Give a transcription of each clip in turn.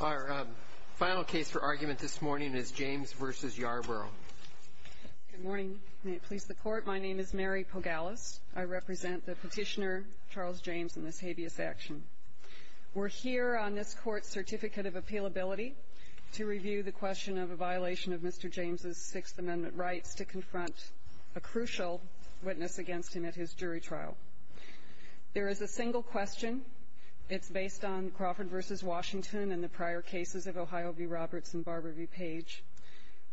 Our final case for argument this morning is James v. Yarbrough. Good morning. May it please the Court. My name is Mary Pogalis. I represent the petitioner, Charles James, in this habeas action. We're here on this Court's Certificate of Appealability to review the question of a violation of Mr. James' Sixth Amendment rights to confront a crucial witness against him at his jury trial. There is a single question. It's based on Crawford v. Washington and the prior cases of Ohio v. Roberts and Barber v. Page,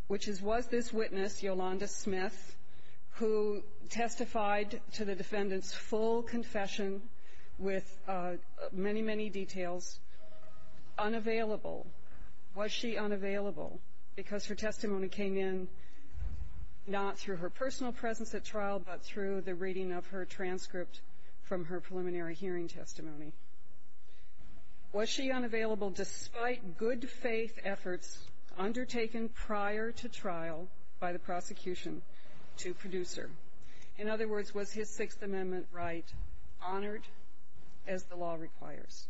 which is, was this witness, Yolanda Smith, who testified to the defendant's full confession with many, many details, unavailable? Was she unavailable because her testimony came in not through her personal presence at trial but through the reading of her transcript from her preliminary hearing testimony? Was she unavailable despite good-faith efforts undertaken prior to trial by the prosecution to produce her? In other words, was his Sixth Amendment right honored as the law requires?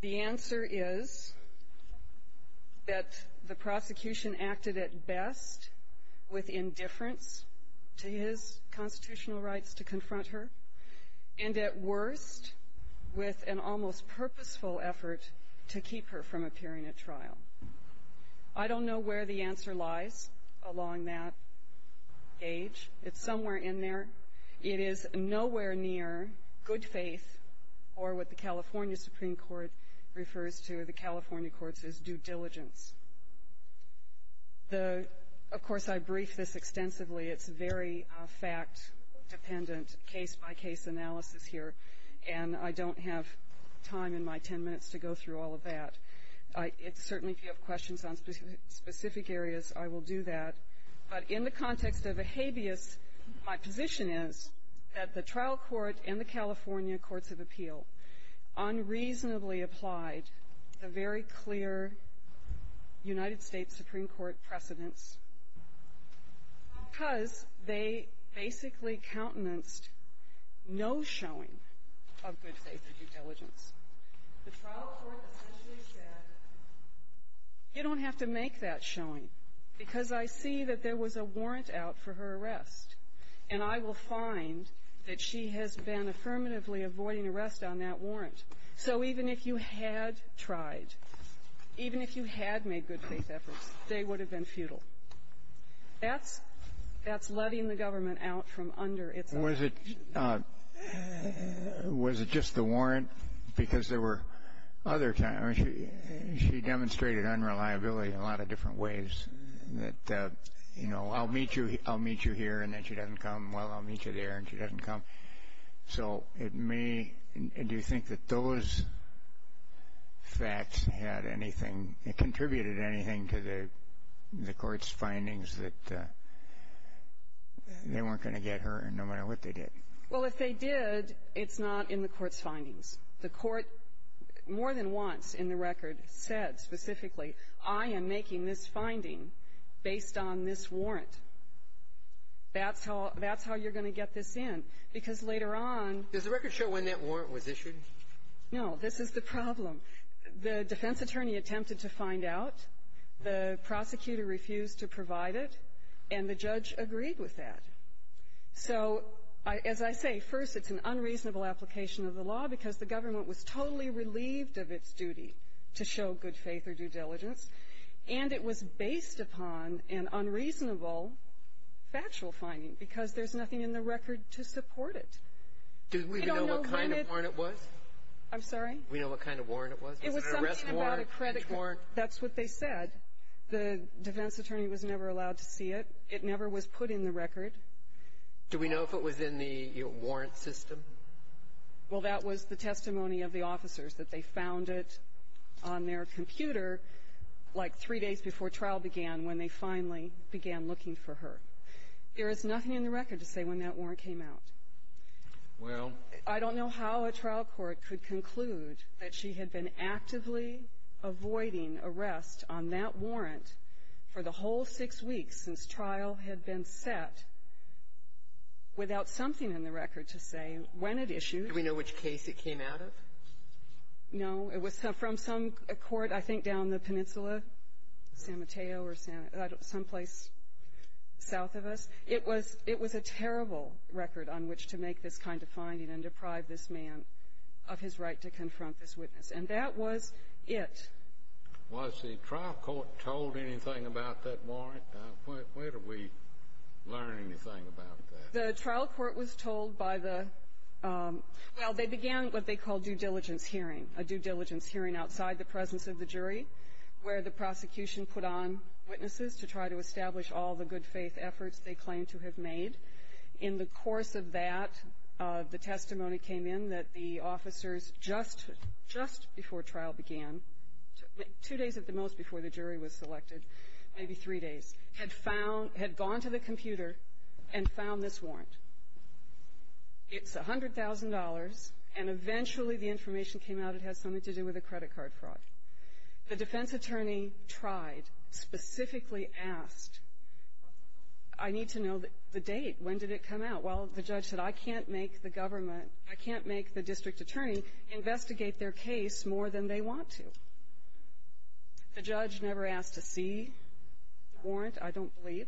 The answer is that the prosecution acted at best with indifference to his constitutional rights to confront her and at worst with an almost purposeful effort to keep her from appearing at trial. I don't know where the answer lies along that gauge. It's somewhere in there. It is nowhere near good faith or what the California Supreme Court refers to, the California courts, as due diligence. Of course, I briefed this extensively. It's very fact-dependent, case-by-case analysis here, and I don't have time in my 10 minutes to go through all of that. Certainly, if you have questions on specific areas, I will do that. But in the context of a habeas, my position is that the trial court and the California courts of appeal unreasonably applied a very clear United States Supreme Court precedence because they basically countenanced no showing of good faith or due diligence. The trial court essentially said, you don't have to make that showing because I see that there was a warrant out for her arrest, and I will find that she has been affirmatively avoiding arrest on that warrant. So even if you had tried, even if you had made good faith efforts, they would have been futile. That's letting the government out from under its own. Was it just the warrant? Because there were other times she demonstrated unreliability in a lot of different ways, that, you know, I'll meet you here and then she doesn't come. Well, I'll meet you there and she doesn't come. So it may, do you think that those facts had anything, contributed anything to the court's findings that they weren't going to get her no matter what they did? Well, if they did, it's not in the court's findings. The court more than once in the record said specifically, I am making this finding based on this warrant. That's how you're going to get this in. Because later on — Does the record show when that warrant was issued? No. This is the problem. The defense attorney attempted to find out. The prosecutor refused to provide it. And the judge agreed with that. So as I say, first, it's an unreasonable application of the law because the government was totally relieved of its duty to show good faith or due diligence. And it was based upon an unreasonable factual finding because there's nothing in the record to support it. Do we know what kind of warrant it was? I'm sorry? Do we know what kind of warrant it was? It was something about a credit card. That's what they said. The defense attorney was never allowed to see it. It never was put in the record. Do we know if it was in the warrant system? Well, that was the testimony of the officers, that they found it on their computer like three days before trial began when they finally began looking for her. There is nothing in the record to say when that warrant came out. Well — I don't know how a trial court could conclude that she had been actively avoiding arrest on that warrant for the whole six weeks since trial had been set without something in the record to say when it issued. Do we know which case it came out of? No. It was from some court, I think, down the peninsula, San Mateo or some place south of us. It was a terrible record on which to make this kind of finding and deprive this man of his right to confront this witness. And that was it. Was the trial court told anything about that warrant? Where did we learn anything about that? The trial court was told by the — well, they began what they called due diligence hearing, a due diligence hearing outside the presence of the jury, where the prosecution put on witnesses to try to establish all the good-faith efforts they claimed to have made. In the course of that, the testimony came in that the officers, just before trial began, two days at the most before the jury was selected, maybe three days, had gone to the computer and found this warrant. It's $100,000, and eventually the information came out it had something to do with a credit card fraud. The defense attorney tried, specifically asked, I need to know the date. When did it come out? Well, the judge said, I can't make the government, I can't make the district attorney investigate their case more than they want to. The judge never asked to see the warrant, I don't believe.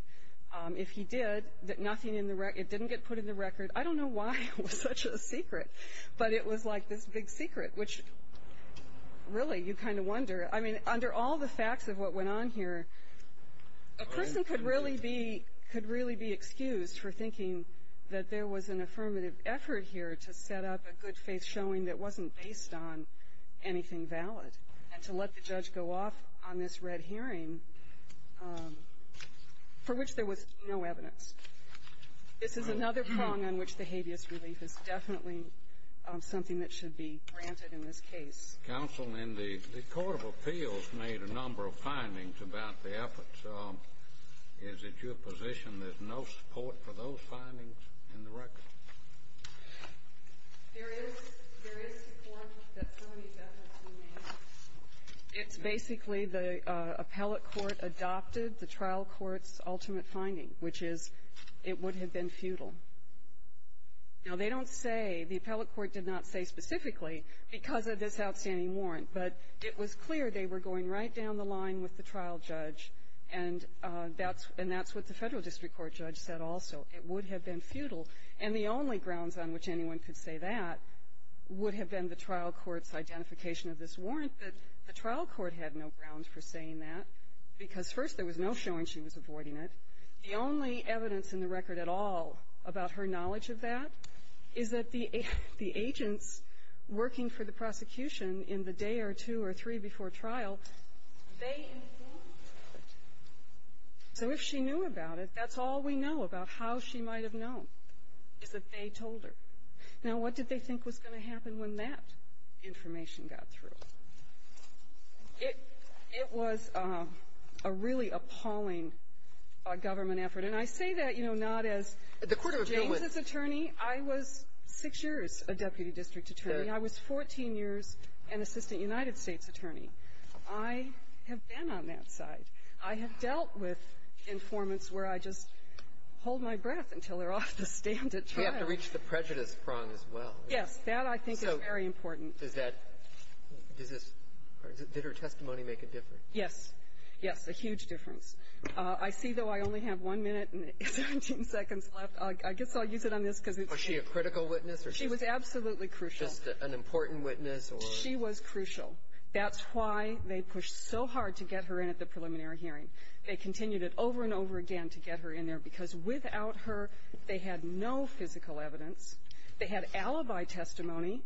If he did, it didn't get put in the record. I don't know why it was such a secret, but it was like this big secret, which, really, you kind of wonder. I mean, under all the facts of what went on here, a person could really be excused for thinking that there was an affirmative effort here to set up a good-faith showing that wasn't based on anything valid, and to let the judge go off on this red hearing for which there was no evidence. This is another prong on which the habeas relief is definitely something that should be granted in this case. Counsel, the court of appeals made a number of findings about the efforts. Is it your position there's no support for those findings in the record? There is support that some of these efforts were made. It's basically the appellate court adopted the trial court's ultimate finding, which is it would have been futile. Now, they don't say, the appellate court did not say specifically because of this outstanding warrant, but it was clear they were going right down the line with the trial judge, and that's what the Federal District Court judge said also. It would have been futile. And the only grounds on which anyone could say that would have been the trial court's identification of this warrant, but the trial court had no grounds for saying that because, first, there was no showing she was avoiding it. The only evidence in the record at all about her knowledge of that is that the agents working for the prosecution in the day or two or three before trial, they informed her. So if she knew about it, that's all we know about how she might have known is that they told her. Now, what did they think was going to happen when that information got through? It was a really appalling government effort. And I say that, you know, not as James's attorney. I was six years a deputy district attorney. I was 14 years an assistant United States attorney. I have been on that side. I have dealt with informants where I just hold my breath until they're off the stand at trial. You have to reach the prejudice prong as well. Yes. That, I think, is very important. So does that – does this – did her testimony make a difference? Yes. Yes. A huge difference. I see, though, I only have one minute and 17 seconds left. I guess I'll use it on this because it's – Was she a critical witness or just – She was absolutely crucial. Just an important witness or – She was crucial. That's why they pushed so hard to get her in at the preliminary hearing. They continued it over and over again to get her in there because without her, they had no physical evidence. They had alibi testimony,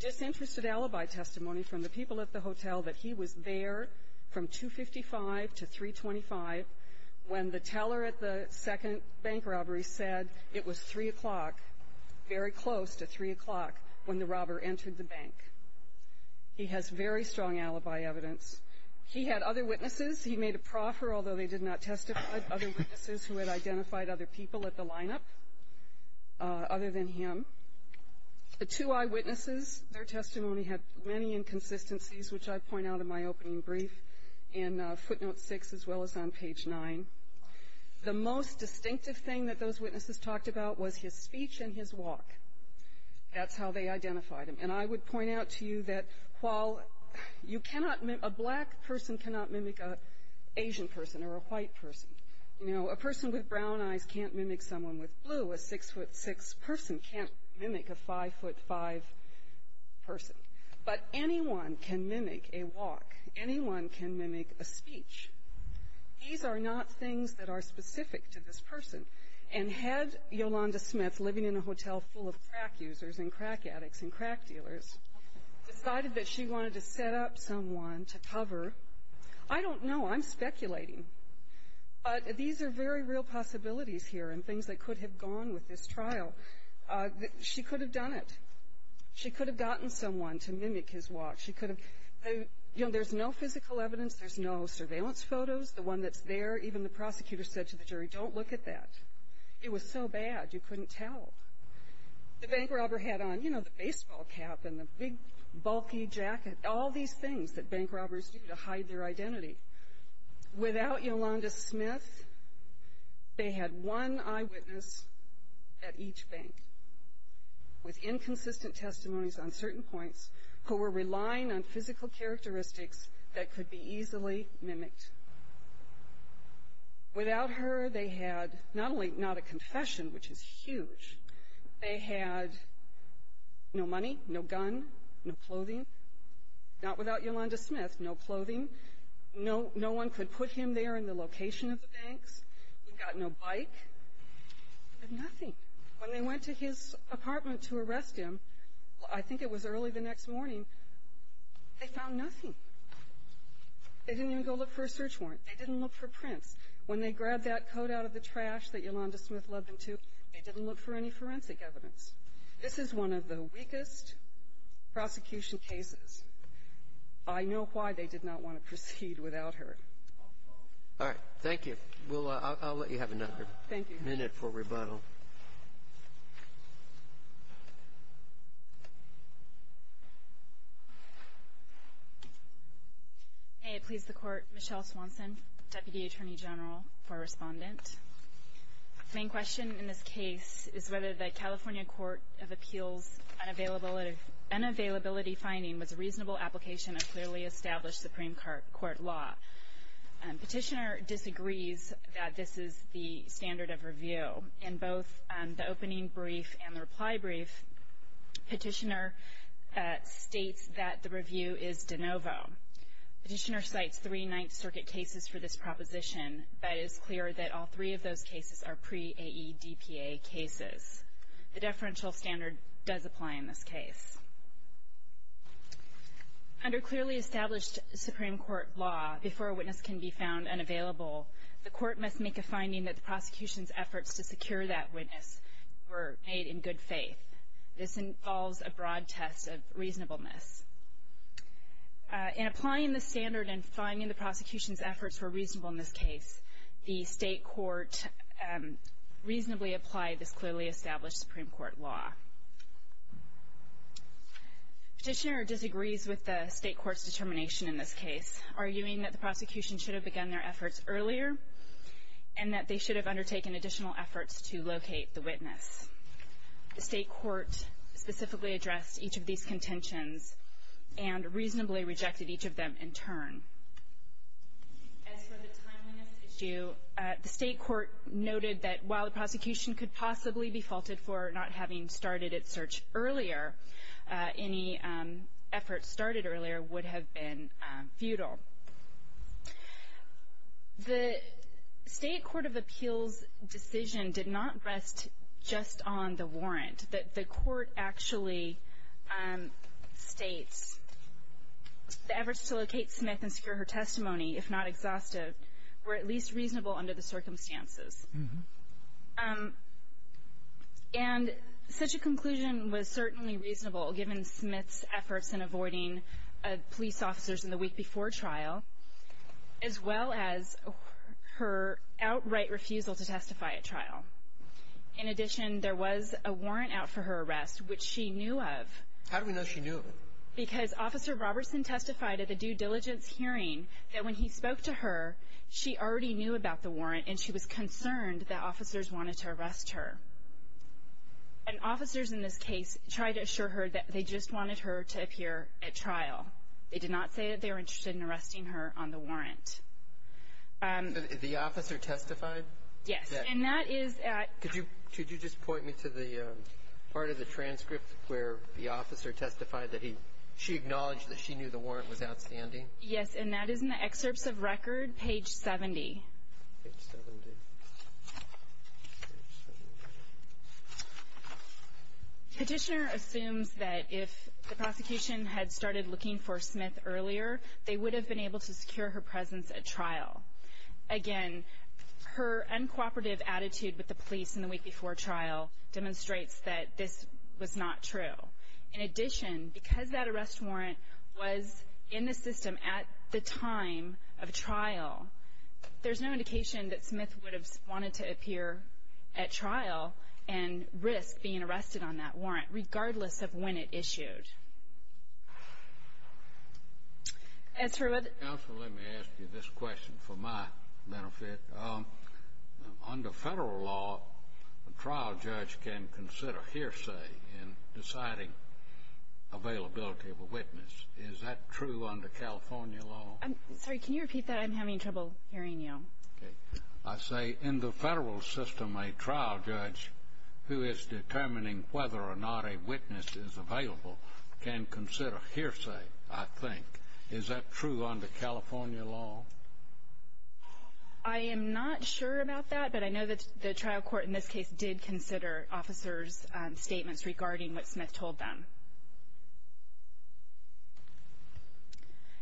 disinterested alibi testimony, from the people at the hotel that he was there from 2.55 to 3.25 when the teller at the second bank robbery said it was 3 o'clock, very close to 3 o'clock, when the robber entered the bank. He has very strong alibi evidence. He had other witnesses. He made a proffer, although they did not testify, other witnesses who had identified other people at the lineup other than him. The two eyewitnesses, their testimony had many inconsistencies, which I point out in my opening brief in footnote 6 as well as on page 9. The most distinctive thing that those witnesses talked about was his speech and his walk. That's how they identified him. And I would point out to you that a black person cannot mimic an Asian person or a white person. You know, a person with brown eyes can't mimic someone with blue. A 6'6 person can't mimic a 5'5 person. But anyone can mimic a walk. Anyone can mimic a speech. These are not things that are specific to this person. And had Yolanda Smith living in a hotel full of crack users and crack addicts and crack dealers decided that she wanted to set up someone to cover, I don't know, I'm speculating, but these are very real possibilities here and things that could have gone with this trial. She could have done it. She could have gotten someone to mimic his walk. There's no physical evidence. There's no surveillance photos. The one that's there, even the prosecutor said to the jury, don't look at that. It was so bad you couldn't tell. The bank robber had on, you know, the baseball cap and the big bulky jacket, all these things that bank robbers do to hide their identity. Without Yolanda Smith, they had one eyewitness at each bank with inconsistent testimonies on certain points who were relying on physical characteristics that could be easily mimicked. Without her, they had not only not a confession, which is huge, they had no money, no gun, no clothing. Not without Yolanda Smith, no clothing. No one could put him there in the location of the banks. He got no bike. They had nothing. When they went to his apartment to arrest him, I think it was early the next morning, they found nothing. They didn't even go look for a search warrant. They didn't look for prints. When they grabbed that coat out of the trash that Yolanda Smith led them to, they didn't look for any forensic evidence. This is one of the weakest prosecution cases. I know why they did not want to proceed without her. All right. Thank you. I'll let you have another minute for rebuttal. Thank you. May it please the Court, Michelle Swanson, Deputy Attorney General for Respondent. The main question in this case is whether the California Court of Appeals unavailability finding was a reasonable application of clearly established Supreme Court law. Petitioner disagrees that this is the standard of review. In both the opening brief and the reply brief, Petitioner states that the review is de novo. Petitioner cites three Ninth Circuit cases for this proposition, but it is clear that all three of those cases are pre-AEDPA cases. The deferential standard does apply in this case. Under clearly established Supreme Court law, before a witness can be found unavailable, the court must make a finding that the prosecution's efforts to secure that witness were made in good faith. This involves a broad test of reasonableness. In applying the standard and finding the prosecution's efforts were reasonable in this case, the state court reasonably applied this clearly established Supreme Court law. Petitioner disagrees with the state court's determination in this case, arguing that the prosecution should have begun their efforts earlier and that they should have undertaken additional efforts to locate the witness. The state court specifically addressed each of these contentions and reasonably rejected each of them in turn. As for the timeliness issue, the state court noted that while the prosecution could possibly be faulted for not having started its search earlier, any efforts started earlier would have been futile. The state court of appeals decision did not rest just on the warrant. The court actually states the efforts to locate Smith and secure her testimony, if not exhaustive, were at least reasonable under the circumstances. And such a conclusion was certainly reasonable, given Smith's efforts in avoiding police officers in the week before trial, as well as her outright refusal to testify at trial. In addition, there was a warrant out for her arrest, which she knew of. How do we know she knew of it? Because Officer Robertson testified at a due diligence hearing that when he spoke to her, she already knew about the warrant and she was concerned that officers wanted to arrest her. And officers in this case tried to assure her that they just wanted her to appear at trial. They did not say that they were interested in arresting her on the warrant. The officer testified? Yes. And that is at Could you just point me to the part of the transcript where the officer testified that she acknowledged that she knew the warrant was outstanding? Yes. And that is in the excerpts of record, page 70. Page 70. Petitioner assumes that if the prosecution had started looking for Smith earlier, they would have been able to secure her presence at trial. Again, her uncooperative attitude with the police in the week before trial demonstrates that this was not true. In addition, because that arrest warrant was in the system at the time of trial, there's no indication that Smith would have wanted to appear at trial and risk being arrested on that warrant, regardless of when it issued. Thank you, Judge. Judge Hewitt. Counsel, let me ask you this question for my benefit. Under federal law, a trial judge can consider hearsay in deciding availability of a witness. Is that true under California law? Sorry, can you repeat that? I'm having trouble hearing you. Okay. I say in the federal system, a trial judge who is determining whether or not a witness is available can consider hearsay, I think. Is that true under California law? I am not sure about that, but I know that the trial court in this case did consider officers' statements regarding what Smith told them.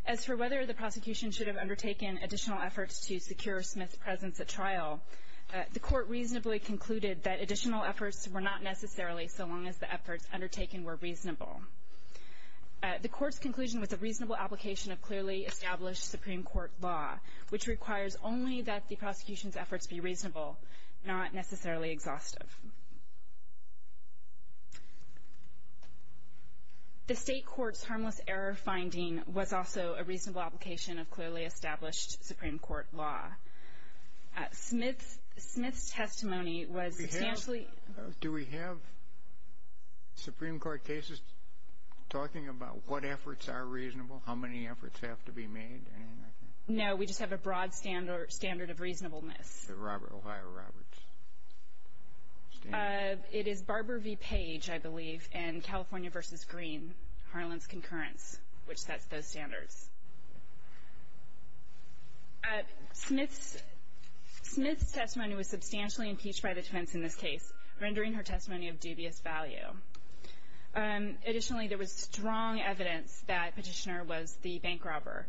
As for whether the prosecution should have undertaken additional efforts to secure Smith's presence at trial, the court reasonably concluded that additional efforts were not necessarily so long as the efforts undertaken were reasonable. The court's conclusion was a reasonable application of clearly established Supreme Court law, which requires only that the prosecution's efforts be reasonable, not necessarily exhaustive. The state court's harmless error finding was also a reasonable application of clearly established Supreme Court law. Smith's testimony was substantially Do we have Supreme Court cases talking about what efforts are reasonable, how many efforts have to be made, anything like that? No, we just have a broad standard of reasonableness. The Robert O'Reilly Roberts standard. It is Barber v. Page, I believe, and California v. Green, Harlan's concurrence, which sets those standards. Smith's testimony was substantially impeached by the defense in this case, rendering her testimony of dubious value. Additionally, there was strong evidence that Petitioner was the bank robber.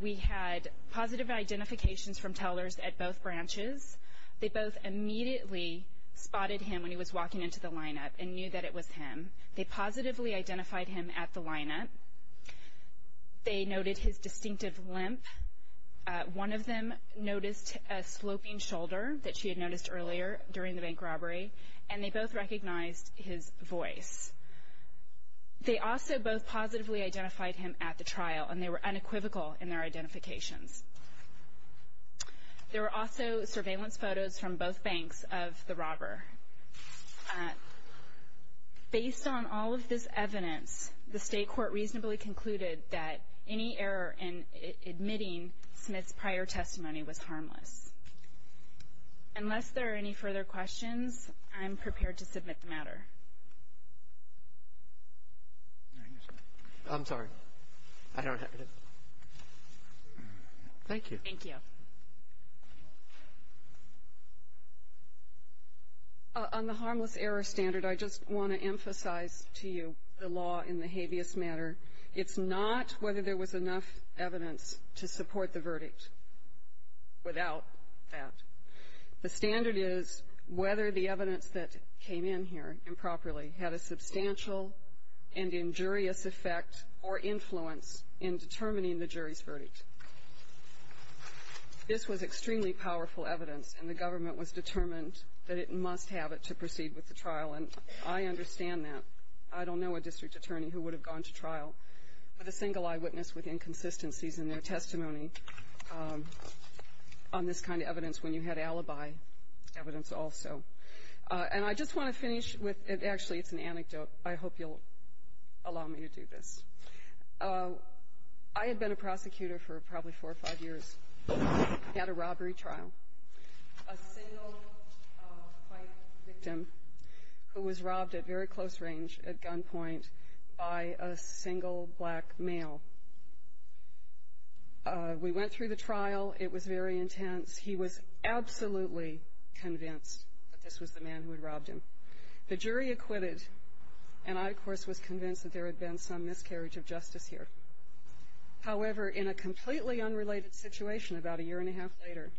We had positive identifications from tellers at both branches. They both immediately spotted him when he was walking into the lineup and knew that it was him. They positively identified him at the lineup. They noted his distinctive limp. One of them noticed a sloping shoulder that she had noticed earlier during the bank robbery, and they both recognized his voice. They also both positively identified him at the trial, and they were unequivocal in their identifications. There were also surveillance photos from both banks of the robber. Based on all of this evidence, the state court reasonably concluded that any error in admitting Smith's prior testimony was harmless. Unless there are any further questions, I'm prepared to submit the matter. I'm sorry. I don't have it. Thank you. Thank you. Ms. Smith. On the harmless error standard, I just want to emphasize to you the law in the habeas matter. It's not whether there was enough evidence to support the verdict without that. The standard is whether the evidence that came in here improperly had a substantial and injurious effect or influence in determining the jury's verdict. This was extremely powerful evidence, and the government was determined that it must have it to proceed with the trial, and I understand that. I don't know a district attorney who would have gone to trial with a single eyewitness with inconsistencies in their testimony on this kind of evidence when you had alibi evidence also. And I just want to finish with an anecdote. I hope you'll allow me to do this. I had been a prosecutor for probably four or five years. We had a robbery trial. A single white victim who was robbed at very close range at gunpoint by a single black male. We went through the trial. It was very intense. He was absolutely convinced that this was the man who had robbed him. The jury acquitted, and I, of course, was convinced that there had been some miscarriage of justice here. However, in a completely unrelated situation about a year and a half later,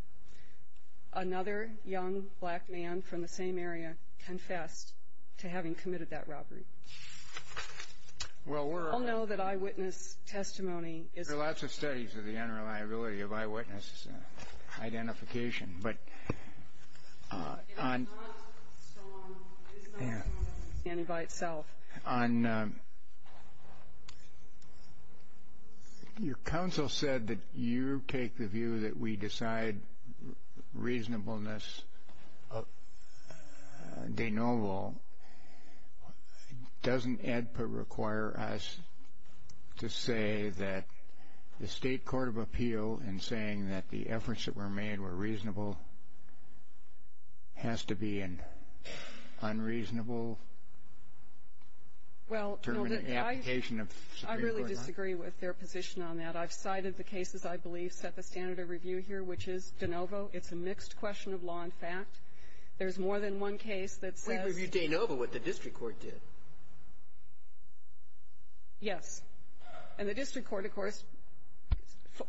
another young black man from the same area confessed to having committed that robbery. You all know that eyewitness testimony is the key. The possibility of eyewitness identification. Your counsel said that you take the view that we decide reasonableness de novo. Doesn't EDPA require us to say that the State Court of Appeal in saying that the efforts that were made were reasonable has to be an unreasonable? Well, I really disagree with their position on that. I've cited the cases I believe set the standard of review here, which is de novo. It's a mixed question of law and fact. There's more than one case that says We reviewed de novo, what the district court did. Yes. And the district court, of course,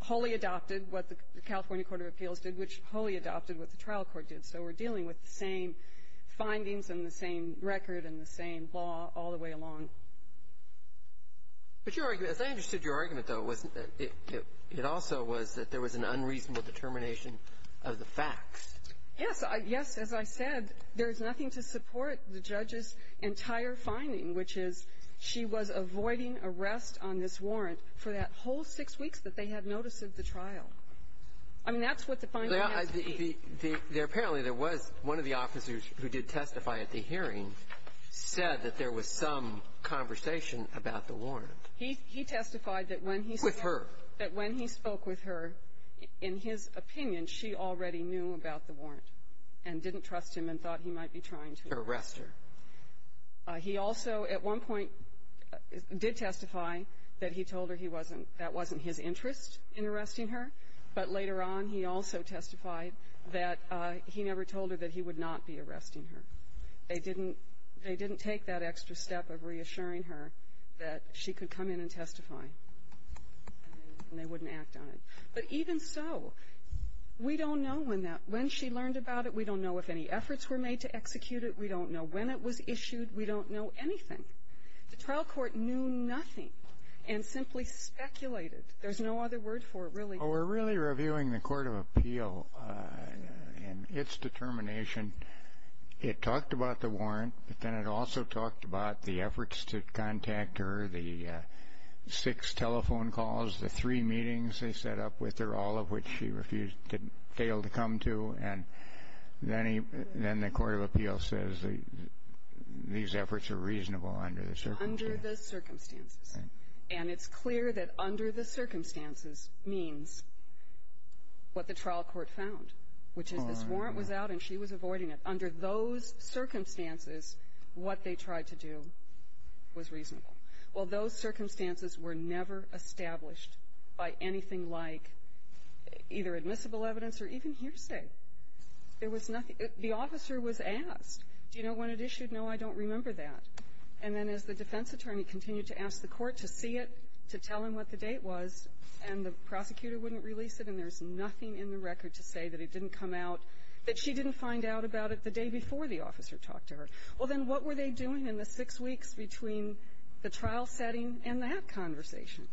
wholly adopted what the California Court of Appeals did, which wholly adopted what the trial court did. So we're dealing with the same findings and the same record and the same law all the way along. But your argument, as I understood your argument, though, it also was that there was an unreasonable determination of the facts. Yes. Yes, as I said, there's nothing to support the judge's entire finding, which is she was avoiding arrest on this warrant for that whole six weeks that they had notice of the trial. I mean, that's what the finding has to be. Apparently, there was one of the officers who did testify at the hearing said that there was some conversation about the warrant. He testified that when he spoke with her, in his opinion, she already knew about the warrant and didn't trust him and thought he might be trying to arrest her. He also, at one point, did testify that he told her he wasn't – that wasn't his interest in arresting her. But later on, he also testified that he never told her that he would not be arresting her. They didn't take that extra step of reassuring her that she could come in and testify, and they wouldn't act on it. But even so, we don't know when that – when she learned about it. We don't know if any efforts were made to execute it. We don't know when it was issued. We don't know anything. The trial court knew nothing and simply speculated. There's no other word for it, really. Well, we're really reviewing the court of appeal and its determination. It talked about the warrant, but then it also talked about the efforts to contact her, the six telephone calls, the three meetings they set up with her, all of which she refused – failed to come to. And then the court of appeal says these efforts are reasonable under the circumstances. Under the circumstances. Right. And it's clear that under the circumstances means what the trial court found, which is this warrant was out and she was avoiding it. Under those circumstances, what they tried to do was reasonable. Well, those circumstances were never established by anything like either admissible evidence or even hearsay. There was nothing – the officer was asked, do you know when it issued? No, I don't remember that. And then as the defense attorney continued to ask the court to see it, to tell him what the date was, and the prosecutor wouldn't release it, and there's nothing in the record to say that it didn't come out, that she didn't find out about it the day before the officer talked to her. Well, then what were they doing in the six weeks between the trial setting and that conversation?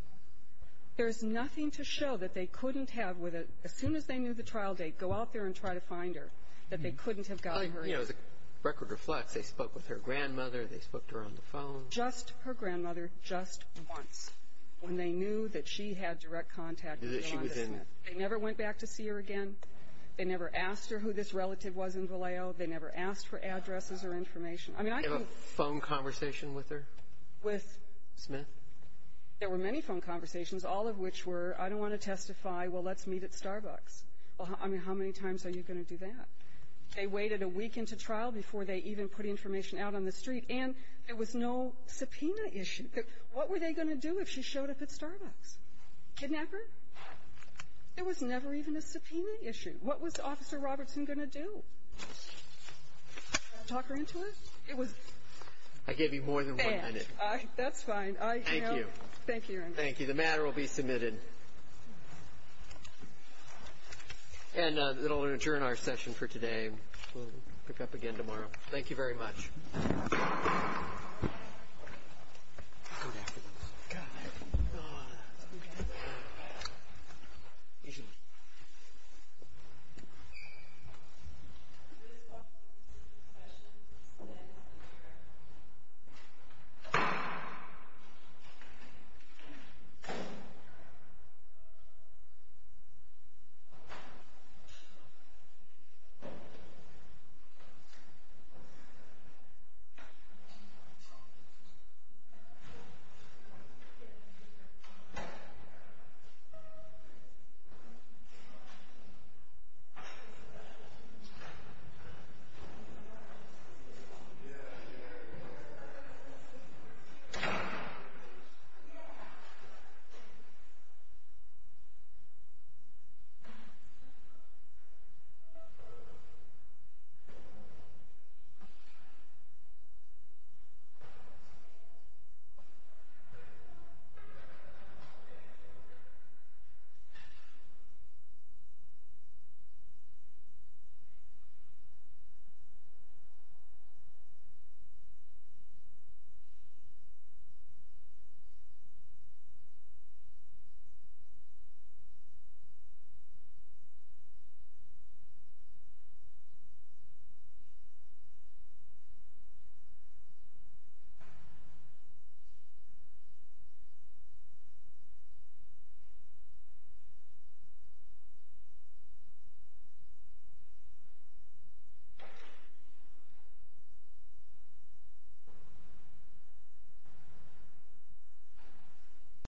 There's nothing to show that they couldn't have, as soon as they knew the trial date, go out there and try to find her, that they couldn't have gotten her in. You know, the record reflects they spoke with her grandmother, they spoke to her on the phone. Yolanda Smith. Yolanda Smith. They never went back to see her again. They never asked her who this relative was in Vallejo. They never asked for addresses or information. I mean, I can't – Do you have a phone conversation with her? With? Smith. There were many phone conversations, all of which were, I don't want to testify, well, let's meet at Starbucks. Well, I mean, how many times are you going to do that? They waited a week into trial before they even put information out on the street, and there was no subpoena issue. What were they going to do if she showed up at Starbucks? Kidnapper? There was never even a subpoena issue. What was Officer Robertson going to do? Talk her into it? It was bad. I gave you more than one minute. That's fine. Thank you. Thank you, Your Honor. Thank you. The matter will be submitted. And it will adjourn our session for today. We'll pick up again tomorrow. Thank you very much. Good afternoon. Good afternoon. Thank you. Thank you. Thank you. Thank you. Thank you.